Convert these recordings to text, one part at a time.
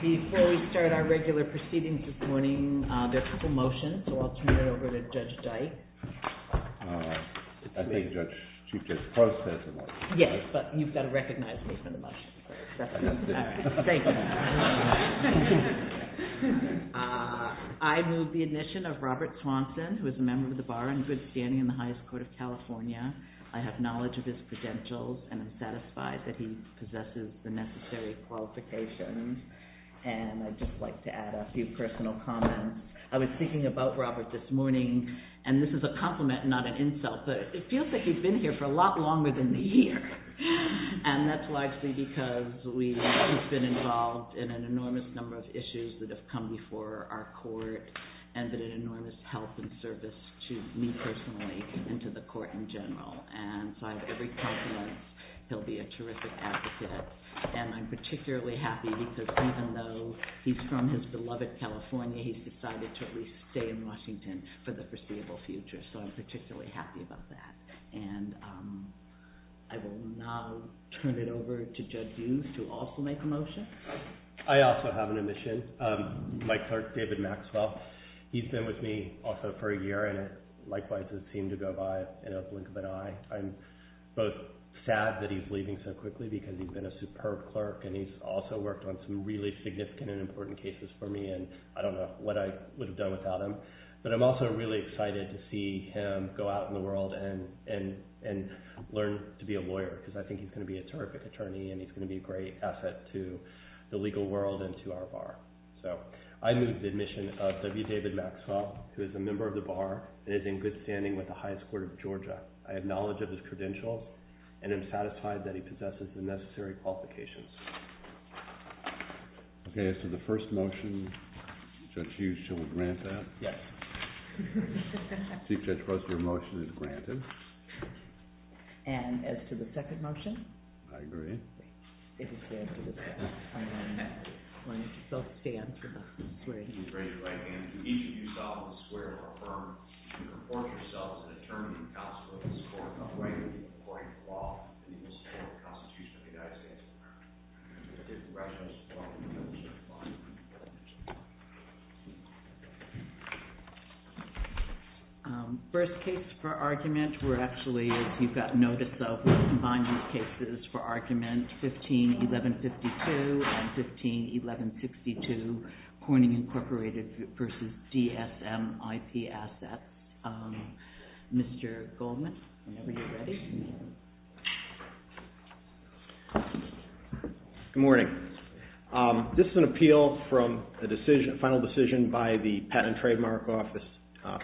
Before we start our regular proceedings this morning, there are a couple of motions, so I'll turn it over to Judge Dyke. I thank Judge Csikszentmihalyi for the motion. Yes, but you've got to recognize me for the motion. Thank you. I move the admission of Robert Swanson, who is a member of the Bar and good standing in the highest court of California. I have knowledge of his credentials and am satisfied that he possesses the necessary qualifications. And I'd just like to add a few personal comments. I was thinking about Robert this morning, and this is a compliment, not an insult, but it feels like he's been here for a lot longer than a year. And that's largely because he's been involved in an enormous number of issues that have come before our court and been an enormous help and service to me personally and to the court in general. And so I have every confidence he'll be a terrific advocate. And I'm particularly happy because even though he's from his beloved California, he's decided to at least stay in Washington for the foreseeable future, so I'm particularly happy about that. And I will now turn it over to Judge Hughes to also make a motion. I also have an admission. My clerk, David Maxwell, he's been with me also for a year and likewise it seemed to go by in a blink of an eye. I'm both sad that he's leaving so quickly because he's been a superb clerk and he's also worked on some really significant and important cases for me and I don't know what I would have done without him. But I'm also really excited to see him go out in the world and learn to be a lawyer because I think he's going to be a terrific attorney and he's going to be a great asset to the legal world and to our bar. So I move the admission of W. David Maxwell, who is a member of the bar and is in good standing with the highest court of Georgia. I have knowledge of his credentials and am satisfied that he possesses the necessary qualifications. Okay. As to the first motion, Judge Hughes shall grant that? Yes. Chief Judge Prosser, your motion is granted. And as to the second motion? I agree. Did he stand for that? Or maybe he just needed them standing, which is great. If each of you saw this, swear and affirm to report yourselves in the terms and law and equal cases to the Constitution of the United States. First case for argument, we're actually, as you've got notice of, we're combining cases for argument 15-1152 and 15-1162 Corning Incorporated v. DSM IP Assets. Mr. Goldman, whenever you're ready. Good morning. This is an appeal from a final decision by the Patent and Trademark Office,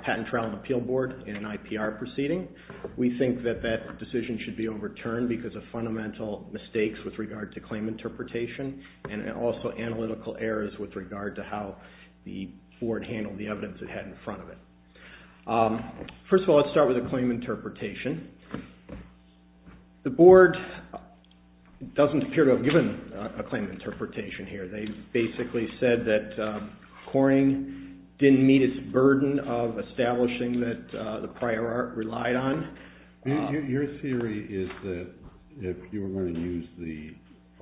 Patent Trial and Appeal Board in an IPR proceeding. We think that that decision should be overturned because of fundamental mistakes with regard to claim interpretation and also analytical errors with regard to how the board handled the evidence it had in front of it. First of all, let's start with the claim interpretation. The board doesn't appear to have given a claim interpretation here. They basically said that Corning didn't meet its burden of establishing that the prior art relied on. Your theory is that if you were going to use the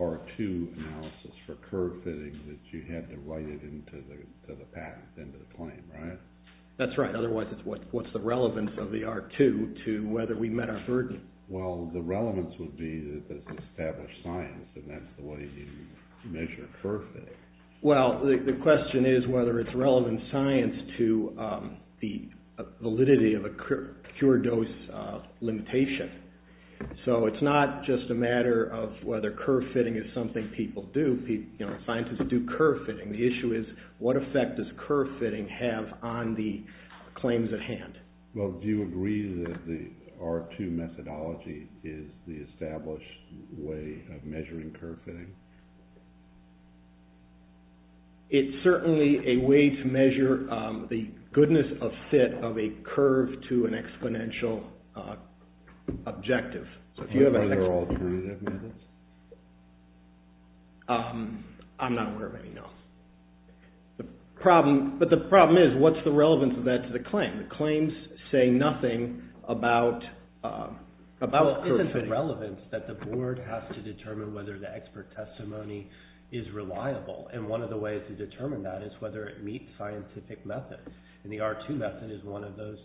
R2 analysis for curve fitting that you had to write it into the patent, into the claim, right? That's right. Otherwise, what's the relevance of the R2 to whether we met our burden? Well, the relevance would be that this established science and that's the way you measure curve fitting. Well, the question is whether it's relevant science to the validity of a cure dose limitation. So it's not just a matter of whether curve fitting is something people do. Scientists do curve fitting. The issue is what effect does curve fitting have on the claims at hand? Well, do you agree that the R2 methodology is the established way of measuring curve fitting? It's certainly a way to measure the goodness of fit of a curve to an exponential objective. Are there alternative methods? I'm not aware of any, no. But the problem is what's the relevance of that to the claim? The claims say nothing about curve fitting. Well, it's the relevance that the board has to determine whether the expert testimony is reliable. And one of the ways to determine that is whether it meets scientific methods. And the R2 method is one of those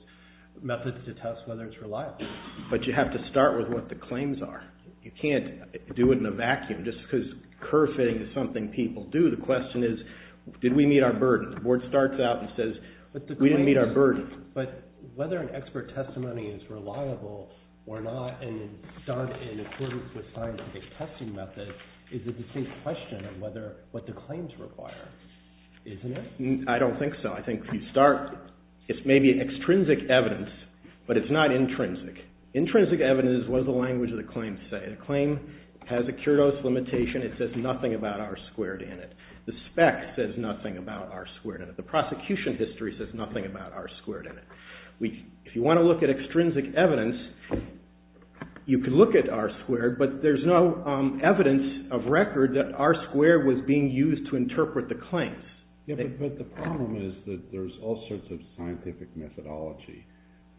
methods to test whether it's reliable. But you have to start with what the claims are. You can't do it in a vacuum just because curve fitting is something people do. The question is did we meet our burden? The board starts out and says we didn't meet our burden. But whether an expert testimony is reliable or not and done in accordance with scientific testing methods, is a distinct question of what the claims require, isn't it? I don't think so. I think if you start, it's maybe extrinsic evidence, but it's not intrinsic. Intrinsic evidence is what does the language of the claim say? The claim has a cure dose limitation. It says nothing about R2 in it. The spec says nothing about R2 in it. The prosecution history says nothing about R2 in it. If you want to look at extrinsic evidence, you can look at R2, but there's no evidence of record that R2 was being used to interpret the claims. But the problem is that there's all sorts of scientific methodology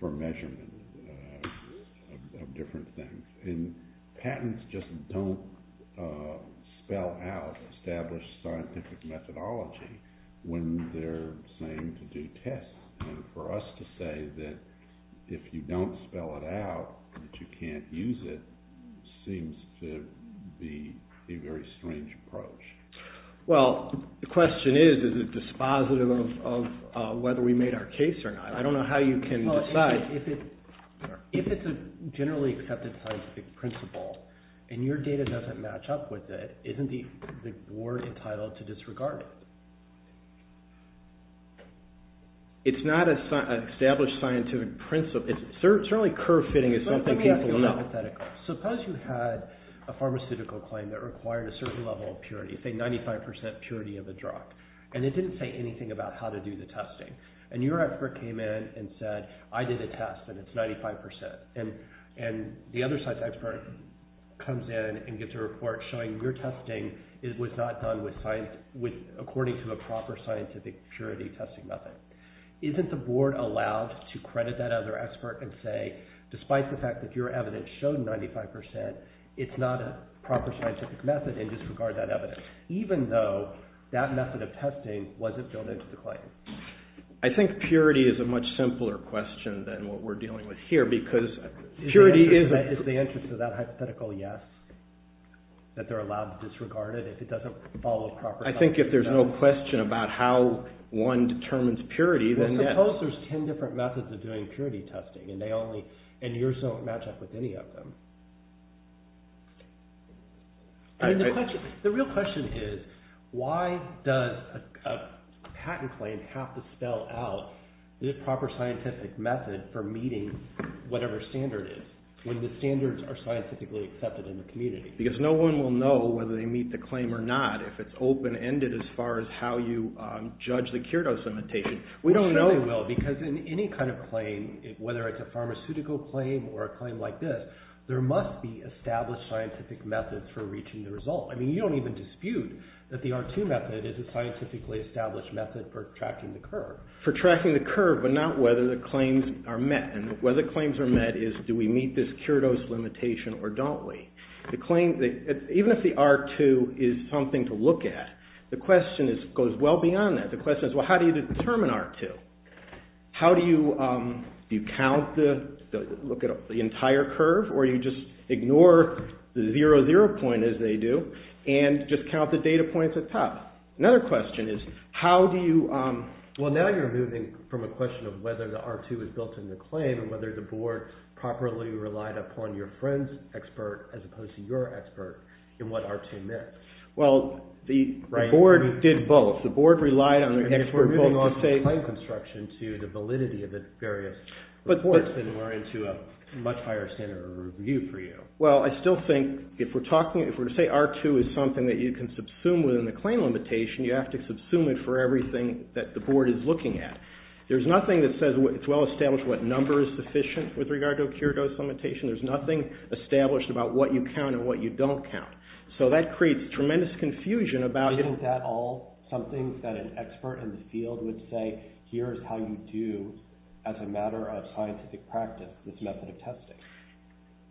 for measurement of different things. And patents just don't spell out established scientific methodology when they're saying to do tests. And for us to say that if you don't spell it out that you can't use it seems to be a very strange approach. Well, the question is, is it dispositive of whether we made our case or not? I don't know how you can decide. But if it's a generally accepted scientific principle and your data doesn't match up with it, isn't the board entitled to disregard it? It's not an established scientific principle. Certainly curve fitting is something people will know. Let me ask you a hypothetical. Suppose you had a pharmaceutical claim that required a certain level of purity, say 95% purity of a drug, and it didn't say anything about how to do the testing. And your expert came in and said, I did a test and it's 95%. And the other side's expert comes in and gets a report showing your testing was not done according to a proper scientific purity testing method. Isn't the board allowed to credit that other expert and say, despite the fact that your evidence showed 95%, it's not a proper scientific method and disregard that evidence, even though that method of testing wasn't built into the claim? I think purity is a much simpler question than what we're dealing with here. Is the interest of that hypothetical yes? That they're allowed to disregard it if it doesn't follow a proper scientific method? I think if there's no question about how one determines purity, then yes. Well, suppose there's 10 different methods of doing purity testing and yours don't match up with any of them. The real question is, why does a patent claim have to spell out the proper scientific method for meeting whatever standard is, when the standards are scientifically accepted in the community? Because no one will know whether they meet the claim or not if it's open-ended as far as how you judge the cure dose limitation. We don't know. We probably will, because in any kind of claim, whether it's a pharmaceutical claim or a claim like this, there must be established scientific methods for reaching the result. I mean, you don't even dispute that the R2 method is a scientifically established method for tracking the curve. For tracking the curve, but not whether the claims are met. And whether claims are met is, do we meet this cure dose limitation or don't we? Even if the R2 is something to look at, the question goes well beyond that. The question is, well, how do you determine R2? How do you count the entire curve, or you just ignore the 0, 0 point as they do, and just count the data points at the top? Another question is, how do you… Well, now you're moving from a question of whether the R2 is built in the claim, and whether the board properly relied upon your friend's expert as opposed to your expert in what R2 meant. Well, the board did both. The board relied on their expert… I mean, if we're moving from the claim construction to the validity of the various reports, then we're into a much higher standard of review for you. Well, I still think if we're talking, if we're to say R2 is something that you can subsume within the claim limitation, you have to subsume it for everything that the board is looking at. There's nothing that says it's well established what number is sufficient with regard to a cure dose limitation. There's nothing established about what you count and what you don't count. So that creates tremendous confusion about… There's nothing that an expert in the field would say, here's how you do, as a matter of scientific practice, this method of testing.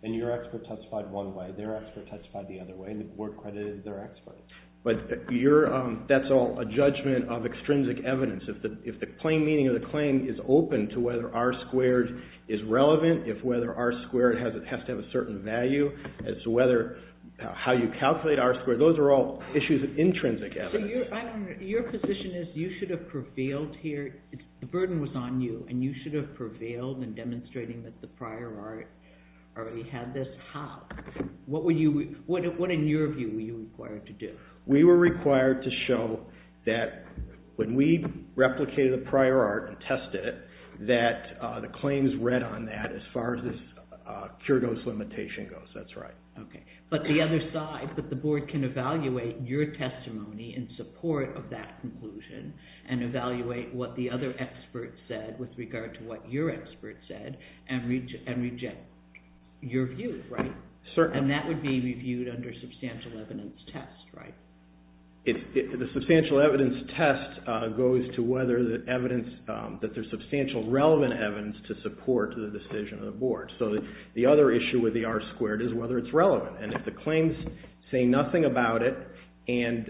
And your expert testified one way, their expert testified the other way, and the board credited their expert. But that's all a judgment of extrinsic evidence. If the plain meaning of the claim is open to whether R2 is relevant, if whether R2 has to have a certain value as to how you calculate R2, those are all issues of intrinsic evidence. So your position is you should have prevailed here, the burden was on you, and you should have prevailed in demonstrating that the prior art already had this, how? What in your view were you required to do? We were required to show that when we replicated the prior art and tested it, that the claims read on that as far as this cure dose limitation goes, that's right. Okay, but the other side, that the board can evaluate your testimony in support of that conclusion and evaluate what the other expert said with regard to what your expert said and reject your view, right? Certainly. And that would be reviewed under substantial evidence test, right? The substantial evidence test goes to whether the evidence, that there's substantial relevant evidence to support the decision of the board. So the other issue with the R2 is whether it's relevant, and if the claims say nothing about it and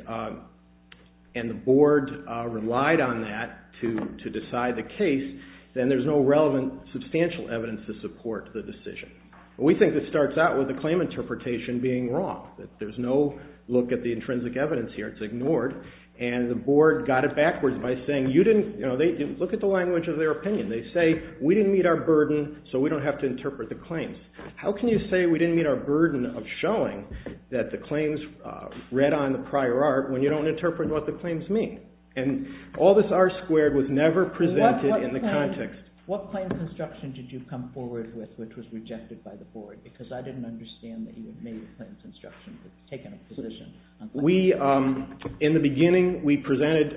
the board relied on that to decide the case, then there's no relevant substantial evidence to support the decision. We think this starts out with the claim interpretation being wrong, that there's no look at the intrinsic evidence here, it's ignored, and the board got it backwards by saying, look at the language of their opinion. They say, we didn't meet our burden, so we don't have to interpret the claims. How can you say we didn't meet our burden of showing that the claims read on the prior art when you don't interpret what the claims mean? And all this R2 was never presented in the context. What claims instruction did you come forward with which was rejected by the board? Because I didn't understand that you had made the claims instruction, taken a position. We, in the beginning, we presented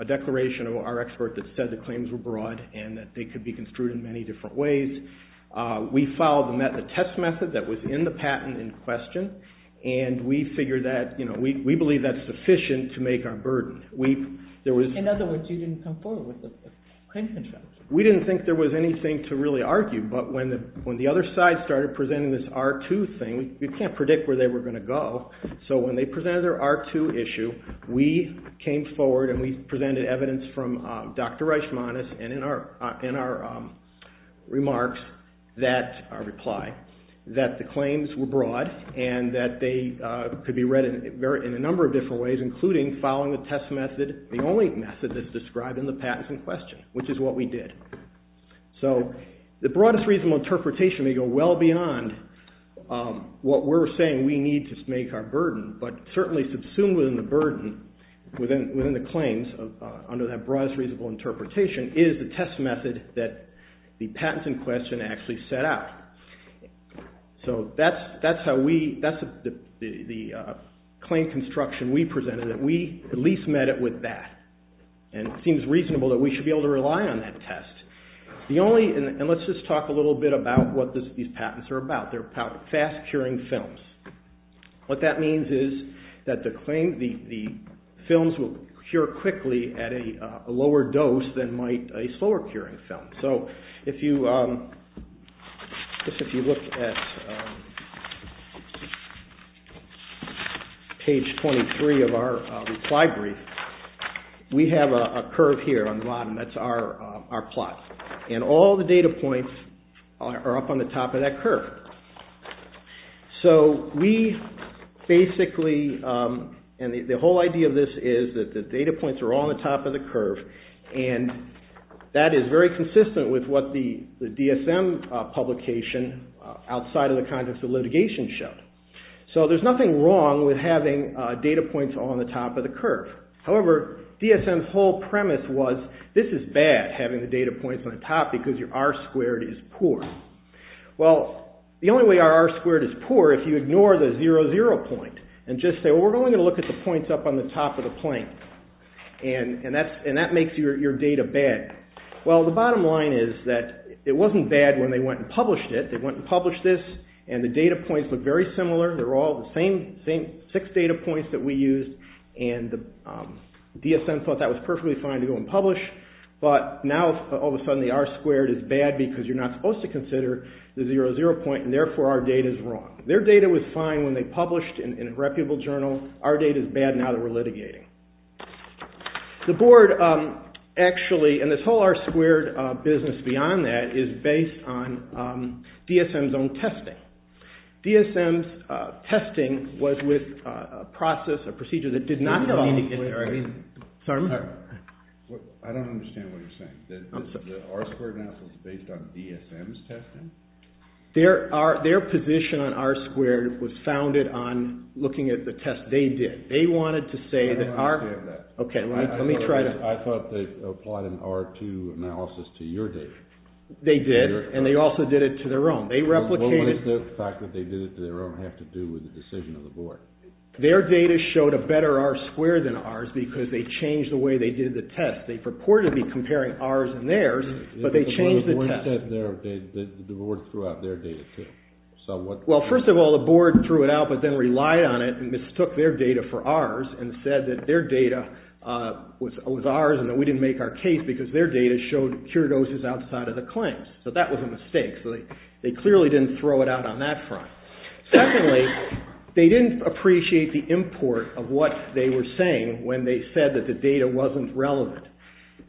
a declaration of our expert that said the claims were broad and that they could be construed in many different ways. We followed the test method that was in the patent in question, and we figured that, you know, we believe that's sufficient to make our burden. In other words, you didn't come forward with the claims instruction. We didn't think there was anything to really argue, but when the other side started presenting this R2 thing, we can't predict where they were going to go, so when they presented their R2 issue, we came forward and we presented evidence from Dr. Reichmanis and in our remarks that reply that the claims were broad and that they could be read in a number of different ways, including following the test method, the only method that's described in the patent in question, which is what we did. So the broadest reasonable interpretation may go well beyond what we're saying we need to make our burden, but certainly subsumed within the burden, within the claims, under that broadest reasonable interpretation, is the test method that the patents in question actually set out. So that's how we, that's the claim construction we presented. We at least met it with that, and it seems reasonable that we should be able to rely on that test. The only, and let's just talk a little bit about what these patents are about. They're fast-curing films. What that means is that the claims, the films will cure quickly at a lower dose than might a slower-curing film. So if you look at page 23 of our reply brief, we have a curve here on the bottom. That's our plot, and all the data points are up on the top of that curve. So we basically, and the whole idea of this is that the data points are on the top of the curve, and that is very consistent with what the DSM publication outside of the context of litigation showed. So there's nothing wrong with having data points on the top of the curve. However, DSM's whole premise was this is bad, having the data points on the top, because your R squared is poor. Well, the only way our R squared is poor, if you ignore the 00 point, and just say, well, we're only going to look at the points up on the top of the plane, and that makes your data bad. Well, the bottom line is that it wasn't bad when they went and published it. They went and published this, and the data points look very similar. They're all the same six data points that we used, and the DSM thought that was perfectly fine to go and publish, but now all of a sudden the R squared is bad, because you're not supposed to consider the 00 point, and therefore our data is wrong. Their data was fine when they published in a reputable journal. Our data is bad now that we're litigating. The board actually, and this whole R squared business beyond that, is based on DSM's own testing. DSM's testing was with a process, a procedure that did not involve litigation. I don't understand what you're saying. The R squared analysis is based on DSM's testing? Their position on R squared was founded on looking at the test they did. They wanted to say that our- I don't understand that. Okay, let me try to- I thought they applied an R2 analysis to your data. They did, and they also did it to their own. They replicated- What does the fact that they did it to their own have to do with the decision of the board? Their data showed a better R squared than ours, because they changed the way they did the test. They purported to be comparing ours and theirs, but they changed the test. The board threw out their data, too. First of all, the board threw it out, but then relied on it and mistook their data for ours, and said that their data was ours and that we didn't make our case, because their data showed cure doses outside of the claims. That was a mistake. They clearly didn't throw it out on that front. Secondly, they didn't appreciate the import of what they were saying when they said that the data wasn't relevant.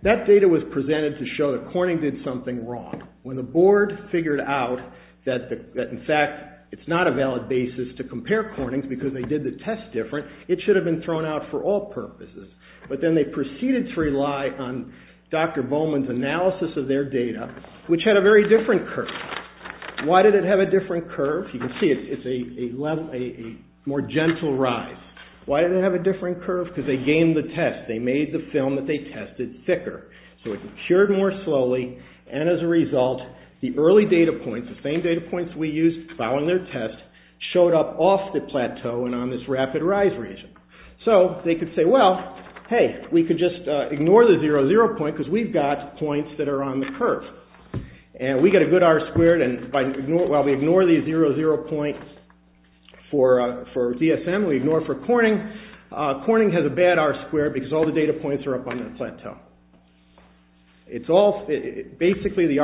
That data was presented to show that Corning did something wrong. When the board figured out that, in fact, it's not a valid basis to compare Corning's because they did the test different, it should have been thrown out for all purposes. But then they proceeded to rely on Dr. Bowman's analysis of their data, which had a very different curve. Why did it have a different curve? You can see it's a more gentle rise. Why did it have a different curve? Because they gamed the test. They made the film that they tested thicker. So it cured more slowly, and as a result, the early data points, the same data points we used following their test, showed up off the plateau and on this rapid rise region. So they could say, well, hey, we could just ignore the 0, 0 point, because we've got points that are on the curve. We get a good R-squared, and while we ignore the 0, 0 point for DSM, we ignore it for Corning, Corning has a bad R-squared because all the data points are up on the plateau. Basically, the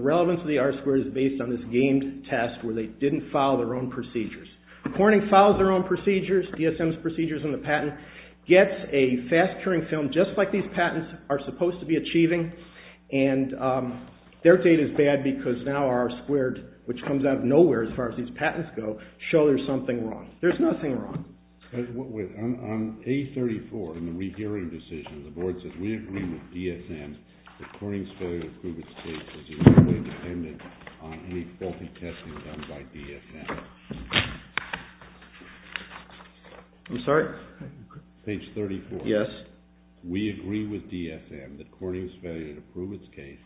relevance of the R-squared is based on this gamed test where they didn't follow their own procedures. Corning follows their own procedures, DSM's procedures in the patent, gets a fast-curing film just like these patents are supposed to be achieving, and their data is bad because now R-squared, which comes out of nowhere as far as these patents go, shows there's something wrong. There's nothing wrong. On A34, in the rehearing decision, the board says, we agree with DSM that Corning's failure to prove its case is entirely dependent on any faulty testing done by DSM. I'm sorry? Page 34. Yes. We agree with DSM that Corning's failure to prove its case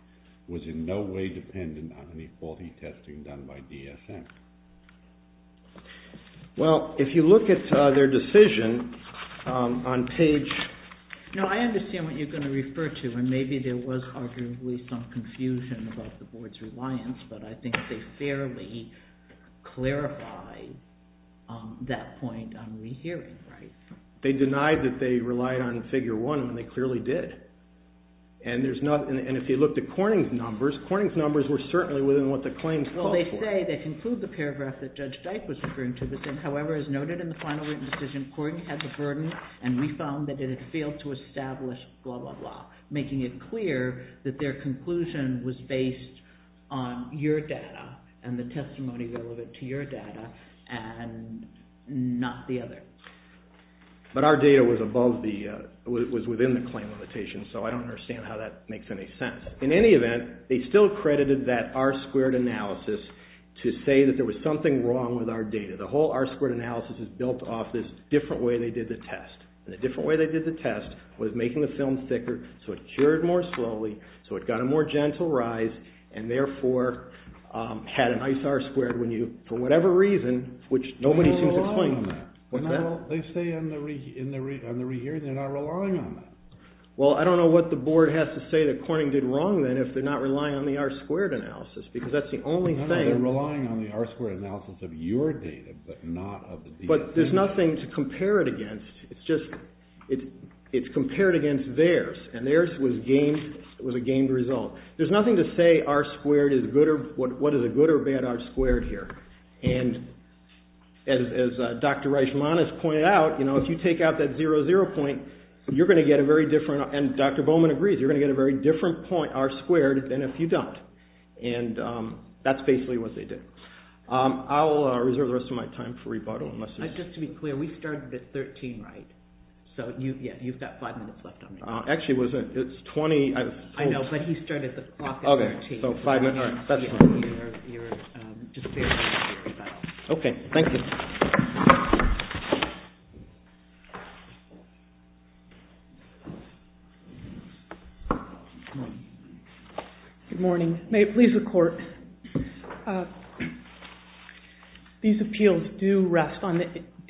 was in no way dependent on any faulty testing done by DSM. Well, if you look at their decision on page... No, I understand what you're going to refer to, and maybe there was arguably some confusion about the board's reliance, but I think they fairly clarify that point on rehearing, right? They denied that they relied on figure one, and they clearly did. And if you look at Corning's numbers, Corning's numbers were certainly within what the claims call for. Well, they say, they conclude the paragraph that Judge Dyke was referring to, that, however, as noted in the final written decision, Corning has a burden, and we found that it had failed to establish, blah, blah, blah, making it clear that their conclusion was based on your data and the testimony relevant to your data and not the other. But our data was within the claim limitation, so I don't understand how that makes any sense. In any event, they still credited that R-squared analysis to say that there was something wrong with our data. The whole R-squared analysis is built off this different way they did the test. And the different way they did the test was making the film thicker, so it cured more slowly, so it got a more gentle rise, and therefore had a nice R-squared when you, for whatever reason, which nobody seems to explain. They say on the rehearing they're not relying on that. Well, I don't know what the board has to say that Corning did wrong, then, if they're not relying on the R-squared analysis, because that's the only thing. No, no, they're relying on the R-squared analysis of your data, but not of the DA. But there's nothing to compare it against. It's compared against theirs, and theirs was a gained result. There's nothing to say what is a good or bad R-squared here. And as Dr. Reichman has pointed out, if you take out that 0, 0 point, you're going to get a very different, and Dr. Bowman agrees, you're going to get a very different point, R-squared, than if you don't. And that's basically what they did. I'll reserve the rest of my time for rebuttal. Just to be clear, we started at 13, right? So, yeah, you've got five minutes left on the clock. Actually, it's 20. I know, but he started the clock at 13. Okay, so five minutes, all right. Good morning. May it please the Court. These appeals do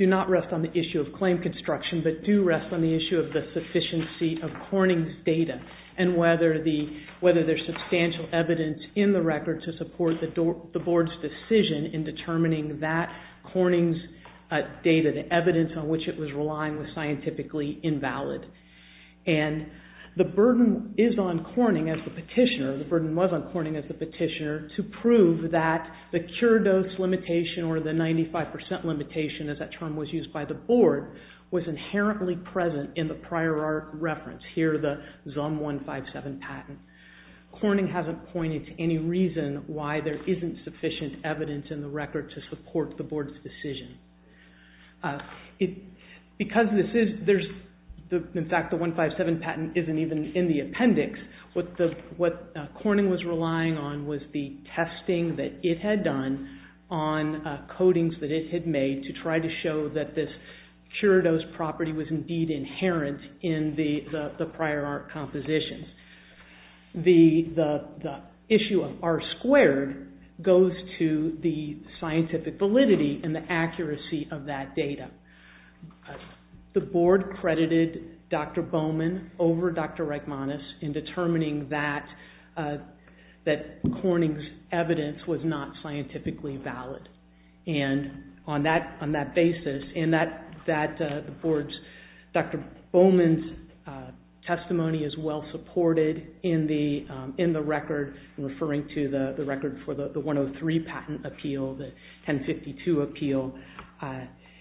not rest on the issue of claim construction, but do rest on the issue of the sufficiency of Corning's data, and whether there's substantial evidence in the record to support the Board's decision in determining that Corning's data, the evidence on which it was relying was scientifically invalid. And the burden is on Corning as the petitioner, the burden was on Corning as the petitioner, to prove that the cure dose limitation or the 95% limitation, as that term was used by the Board, was inherently present in the prior reference, here the ZOM 157 patent. Corning hasn't pointed to any reason why there isn't sufficient evidence in the record to support the Board's decision. Because this is, there's, in fact, the 157 patent isn't even in the appendix, what Corning was relying on was the testing that it had done on codings that it had made to try to show that this cure dose property was indeed inherent in the prior art compositions. The issue of R-squared goes to the scientific validity and the accuracy of that data. The Board credited Dr. Bowman over Dr. Reichmanis in determining that Corning's evidence was not scientifically valid. And on that basis, and that the Board's, Dr. Bowman's testimony is well supported in the record, referring to the record for the 103 patent appeal, the 1052 appeal,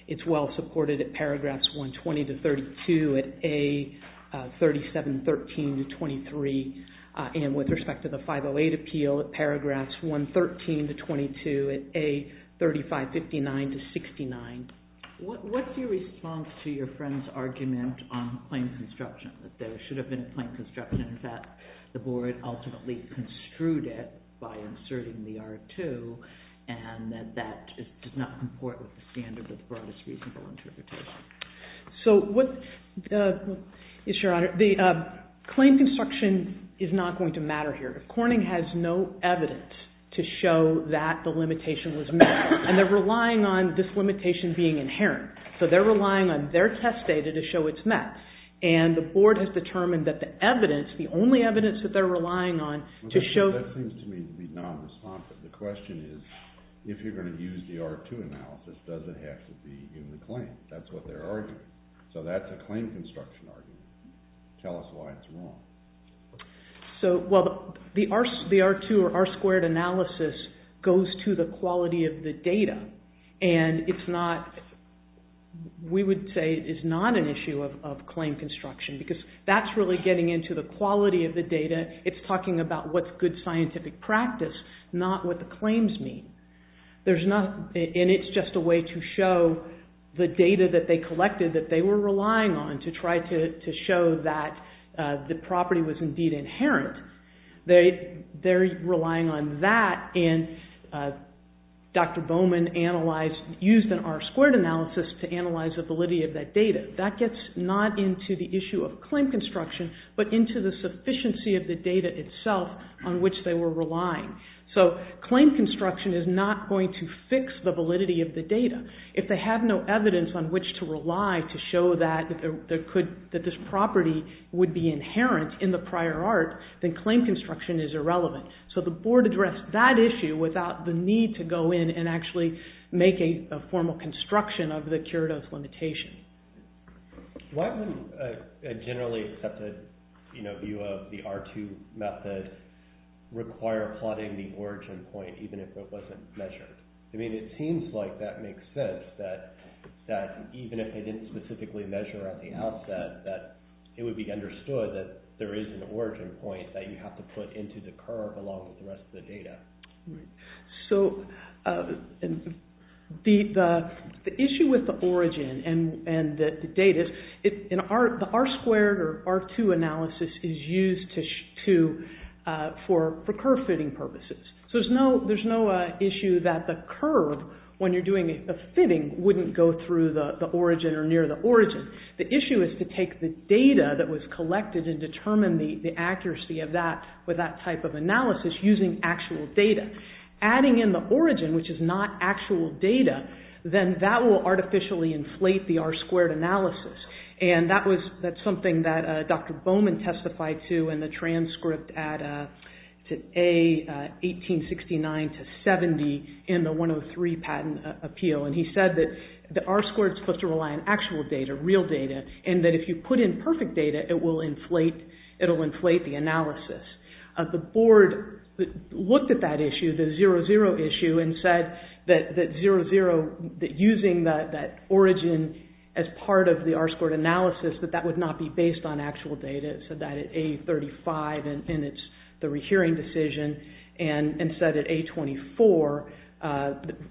it's well supported at paragraphs 120-32 at A-3713-23, and with respect to the 508 appeal at paragraphs 113-22 at A-3559-69. What's your response to your friend's argument on plain construction, that there should have been a plain construction, that the Board ultimately construed it by inserting the R-2, and that that does not comport with the standard of the broadest reasonable interpretation? So what, Your Honor, the plain construction is not going to matter here. Corning has no evidence to show that the limitation was met, and they're relying on this limitation being inherent. So they're relying on their test data to show it's met, and the Board has determined that the evidence, the only evidence that they're relying on to show... That seems to me to be non-responsive. The question is, if you're going to use the R-2 analysis, does it have to be in the claim? That's what they're arguing. So that's a claim construction argument. Tell us why it's wrong. Well, the R-2 or R-squared analysis goes to the quality of the data, and it's not, we would say it's not an issue of claim construction, because that's really getting into the quality of the data. It's talking about what's good scientific practice, not what the claims mean. There's not, and it's just a way to show the data that they collected that they were relying on to try to show that the property was indeed inherent. They're relying on that, and Dr. Bowman analyzed, used an R-squared analysis to analyze the validity of that data. That gets not into the issue of claim construction, but into the sufficiency of the data itself on which they were relying. So claim construction is not going to fix the validity of the data. If they have no evidence on which to rely to show that this property would be inherent in the prior art, then claim construction is irrelevant. So the board addressed that issue without the need to go in and actually make a formal construction of the cure-dose limitation. Why wouldn't a generally accepted view of the R2 method require plotting the origin point even if it wasn't measured? I mean, it seems like that makes sense, that even if they didn't specifically measure at the outset, that it would be understood that there is an origin point that you have to put into the curve along with the rest of the data. So the issue with the origin and the data, the R-squared or R2 analysis is used for curve-fitting purposes. So there's no issue that the curve, when you're doing a fitting, wouldn't go through the origin or near the origin. The issue is to take the data that was collected using actual data. Adding in the origin, which is not actual data, then that will artificially inflate the R-squared analysis. And that's something that Dr. Bowman testified to in the transcript at A-1869-70 in the 103 patent appeal. And he said that the R-squared is supposed to rely on actual data, real data, and that if you put in perfect data, it will inflate the analysis. The board looked at that issue, the 00 issue, and said that 00, using that origin as part of the R-squared analysis, that that would not be based on actual data. It said that at A-35, and it's the rehearing decision, and said at A-24,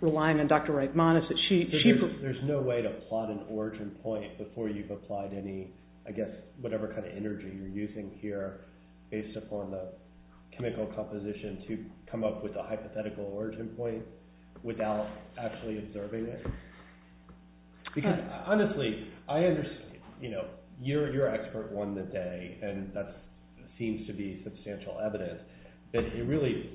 relying on Dr. Regmanis, that she... There's no way to plot an origin point before you've applied any, I guess, whatever kind of energy you're using here based upon the chemical composition to come up with a hypothetical origin point without actually observing it. Because, honestly, I understand... You're an expert on the day, and that seems to be substantial evidence, but it really...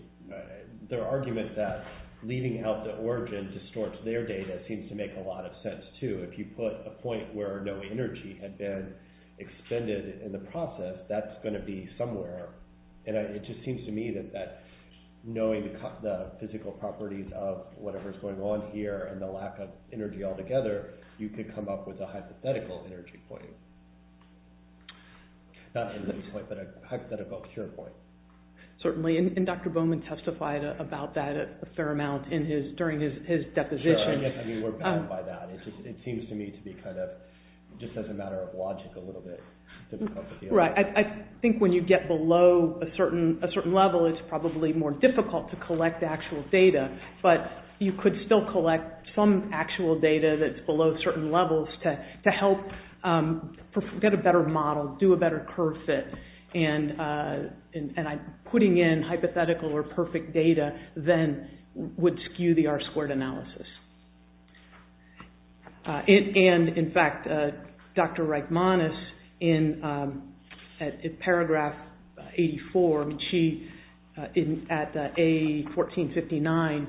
Their argument that leaving out the origin distorts their data seems to make a lot of sense, too. If you put a point where no energy had been expended in the process, that's going to be somewhere. And it just seems to me that knowing the physical properties of whatever's going on here and the lack of energy altogether, you could come up with a hypothetical energy point. Not an end point, but a hypothetical cure point. Certainly, and Dr. Bowman testified about that a fair amount during his deposition. Sure, I guess we're bad by that. Right, I think when you get below a certain level, it's probably more difficult to collect actual data, but you could still collect some actual data that's below certain levels to help get a better model, do a better curve fit. And putting in hypothetical or perfect data then would skew the R-squared analysis. And, in fact, Dr. Reichmanis, in paragraph 84, at A1459,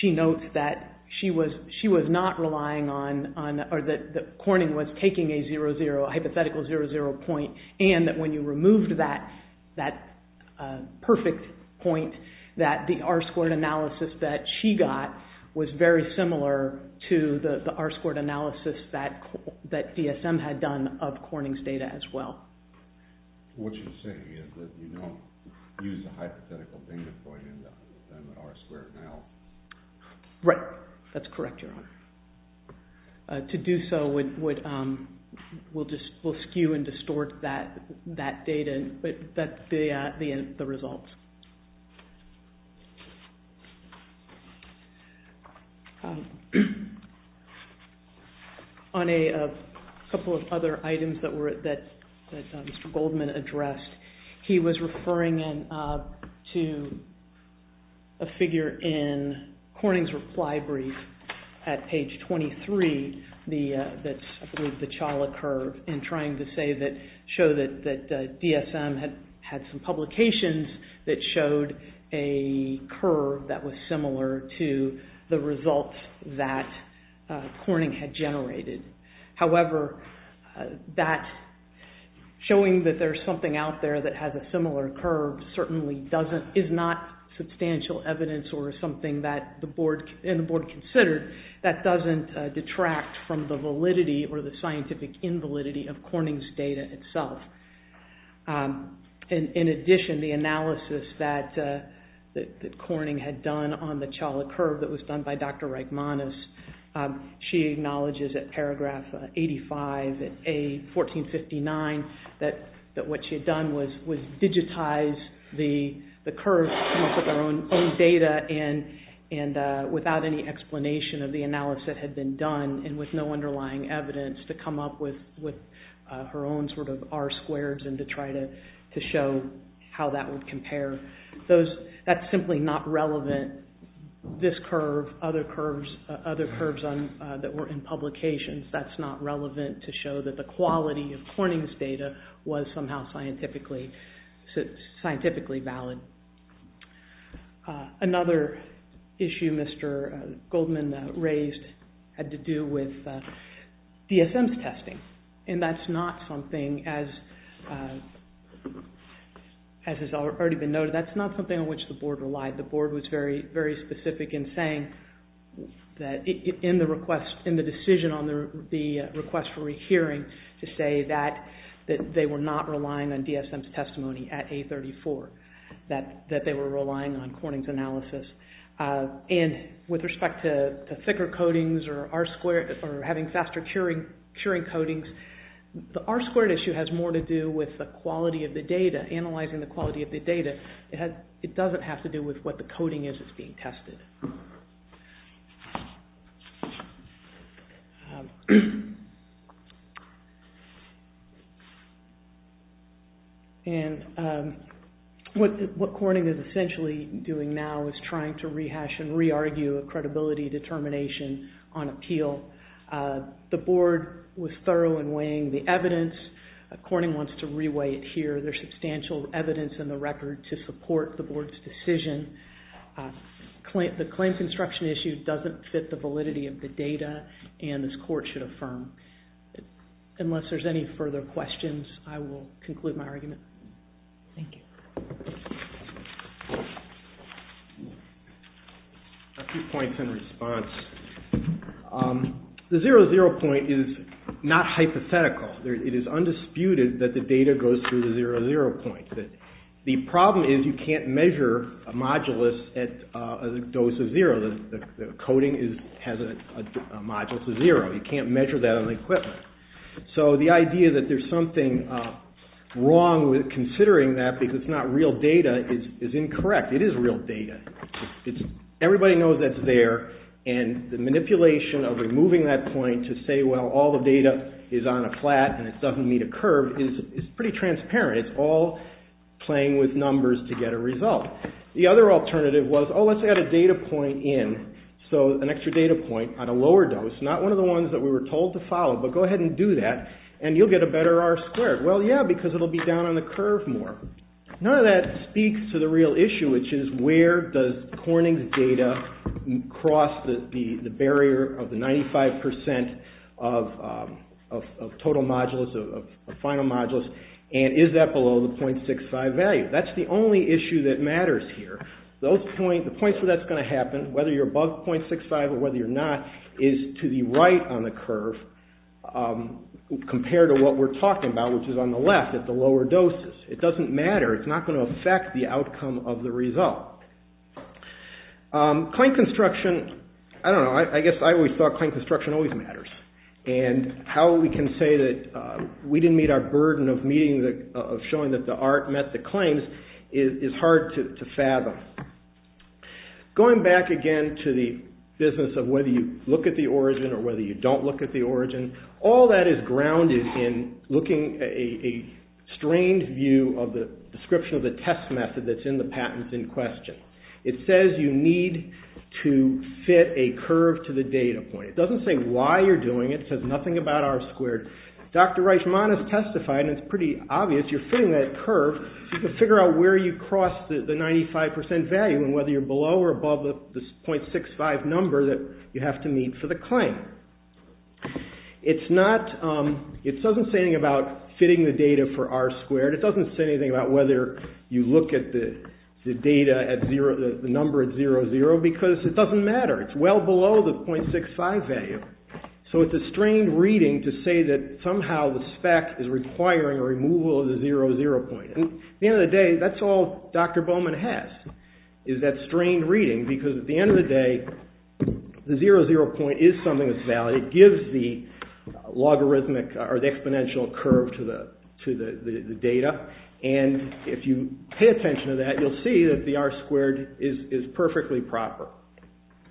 she notes that she was not relying on... that Corning was taking a hypothetical zero-zero point and that when you removed that perfect point, that the R-squared analysis that she got was very similar to the R-squared analysis that DSM had done of Corning's data as well. Right, that's correct, Your Honor. To do so will skew and distort that data, the results. On a couple of other items that Mr. Goldman addressed, he was referring to a figure in Corning's reply brief at page 23 that's with the Chawla curve and trying to show that DSM had some publications that showed a curve that was similar to the results that Corning had generated. However, showing that there's something out there that has a similar curve certainly is not substantial evidence or something that the Board considered that doesn't detract from the validity or the scientific invalidity of Corning's data itself. In addition, the analysis that Corning had done on the Chawla curve that was done by Dr. Reichmanis, she acknowledges at paragraph 85 of A1459 that what she had done was digitize the curve with her own data and without any explanation of the analysis that had been done and with no underlying evidence to come up with her own sort of R-squareds and to try to show how that would compare. That's simply not relevant. This curve, other curves that were in publications, that's not relevant to show that the quality of Corning's data was somehow scientifically valid. Another issue Mr. Goldman raised had to do with DSM's testing and that's not something, as has already been noted, that's not something on which the Board relied. The Board was very specific in saying that in the decision on the request for rehearing to say that they were not relying on DSM's testimony at A34, and with respect to thicker coatings or having faster curing coatings, the R-squared issue has more to do with the quality of the data, analyzing the quality of the data. It doesn't have to do with what the coating is that's being tested. And what Corning is essentially doing now is trying to rehash and re-argue a credibility determination on appeal. The Board was thorough in weighing the evidence. Corning wants to re-weigh it here. There's substantial evidence in the record to support the Board's decision. The claim construction issue doesn't fit the validity of the data and this Court should affirm. Unless there's any further questions, I will conclude my argument. Thank you. A few points in response. The zero-zero point is not hypothetical. It is undisputed that the data goes through the zero-zero point. The problem is you can't measure a modulus at a dose of zero. The coating has a modulus of zero. You can't measure that on the equipment. So the idea that there's something wrong with considering that because it's not real data is incorrect. It is real data. Everybody knows that's there, and the manipulation of removing that point to say, well, all the data is on a flat and it doesn't meet a curve, is pretty transparent. It's all playing with numbers to get a result. The other alternative was, oh, let's add a data point in, so an extra data point on a lower dose, not one of the ones that we were told to follow, but go ahead and do that and you'll get a better R-squared. Well, yeah, because it will be down on the curve more. None of that speaks to the real issue, which is where does Corning's data cross the barrier of the 95% of total modulus, of final modulus, and is that below the .65 value? That's the only issue that matters here. The points where that's going to happen, whether you're above .65 or whether you're not, is to the right on the curve compared to what we're talking about, which is on the left at the lower doses. It doesn't matter. It's not going to affect the outcome of the result. Clank construction, I don't know, I guess I always thought clank construction always matters, and how we can say that we didn't meet our burden of showing that the art met the claims is hard to fathom. Going back again to the business of whether you look at the origin or whether you don't look at the origin, all that is grounded in looking at a strained view of the description of the test method that's in the patents in question. It says you need to fit a curve to the data point. It doesn't say why you're doing it. It says nothing about R squared. Dr. Reichman has testified, and it's pretty obvious, you're fitting that curve to figure out where you cross the 95% value and whether you're below or above the .65 number that you have to meet for the claim. It doesn't say anything about fitting the data for R squared. It doesn't say anything about whether you look at the data, the number at 00, because it doesn't matter. It's well below the .65 value. So it's a strained reading to say that somehow the spec is requiring a removal of the 00 point. At the end of the day, that's all Dr. Bowman has, is that strained reading, because at the end of the day, the 00 point is something that's valid. It gives the logarithmic or the exponential curve to the data, and if you pay attention to that, you'll see that the R squared is perfectly proper.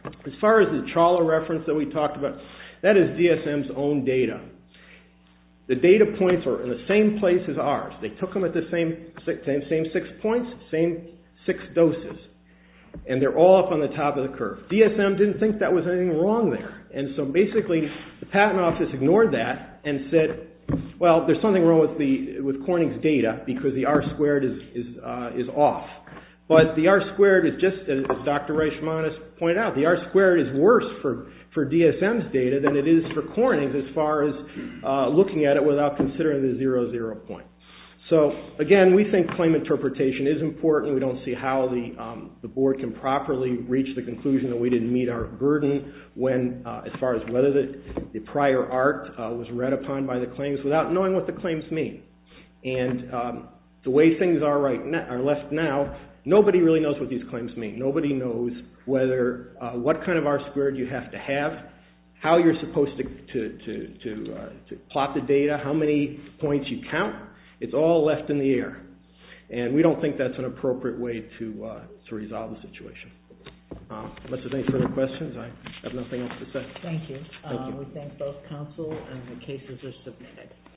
As far as the Chawla reference that we talked about, that is DSM's own data. The data points are in the same place as ours. They took them at the same six points, same six doses, and they're all up on the top of the curve. DSM didn't think that was anything wrong there, and so basically the patent office ignored that and said, well, there's something wrong with Corning's data because the R squared is off. But the R squared is just, as Dr. Reichmanis pointed out, the R squared is worse for DSM's data than it is for Corning's as far as looking at it without considering the 00 point. So again, we think claim interpretation is important. We don't see how the board can properly reach the conclusion that we didn't meet our burden as far as whether the prior art was read upon by the claims without knowing what the claims mean. And the way things are left now, nobody really knows what these claims mean. Nobody knows what kind of R squared you have to have, how you're supposed to plot the data, how many points you count. It's all left in the air, and we don't think that's an appropriate way to resolve the situation. Unless there's any further questions, I have nothing else to say. Thank you. We thank both counsel and the cases are submitted.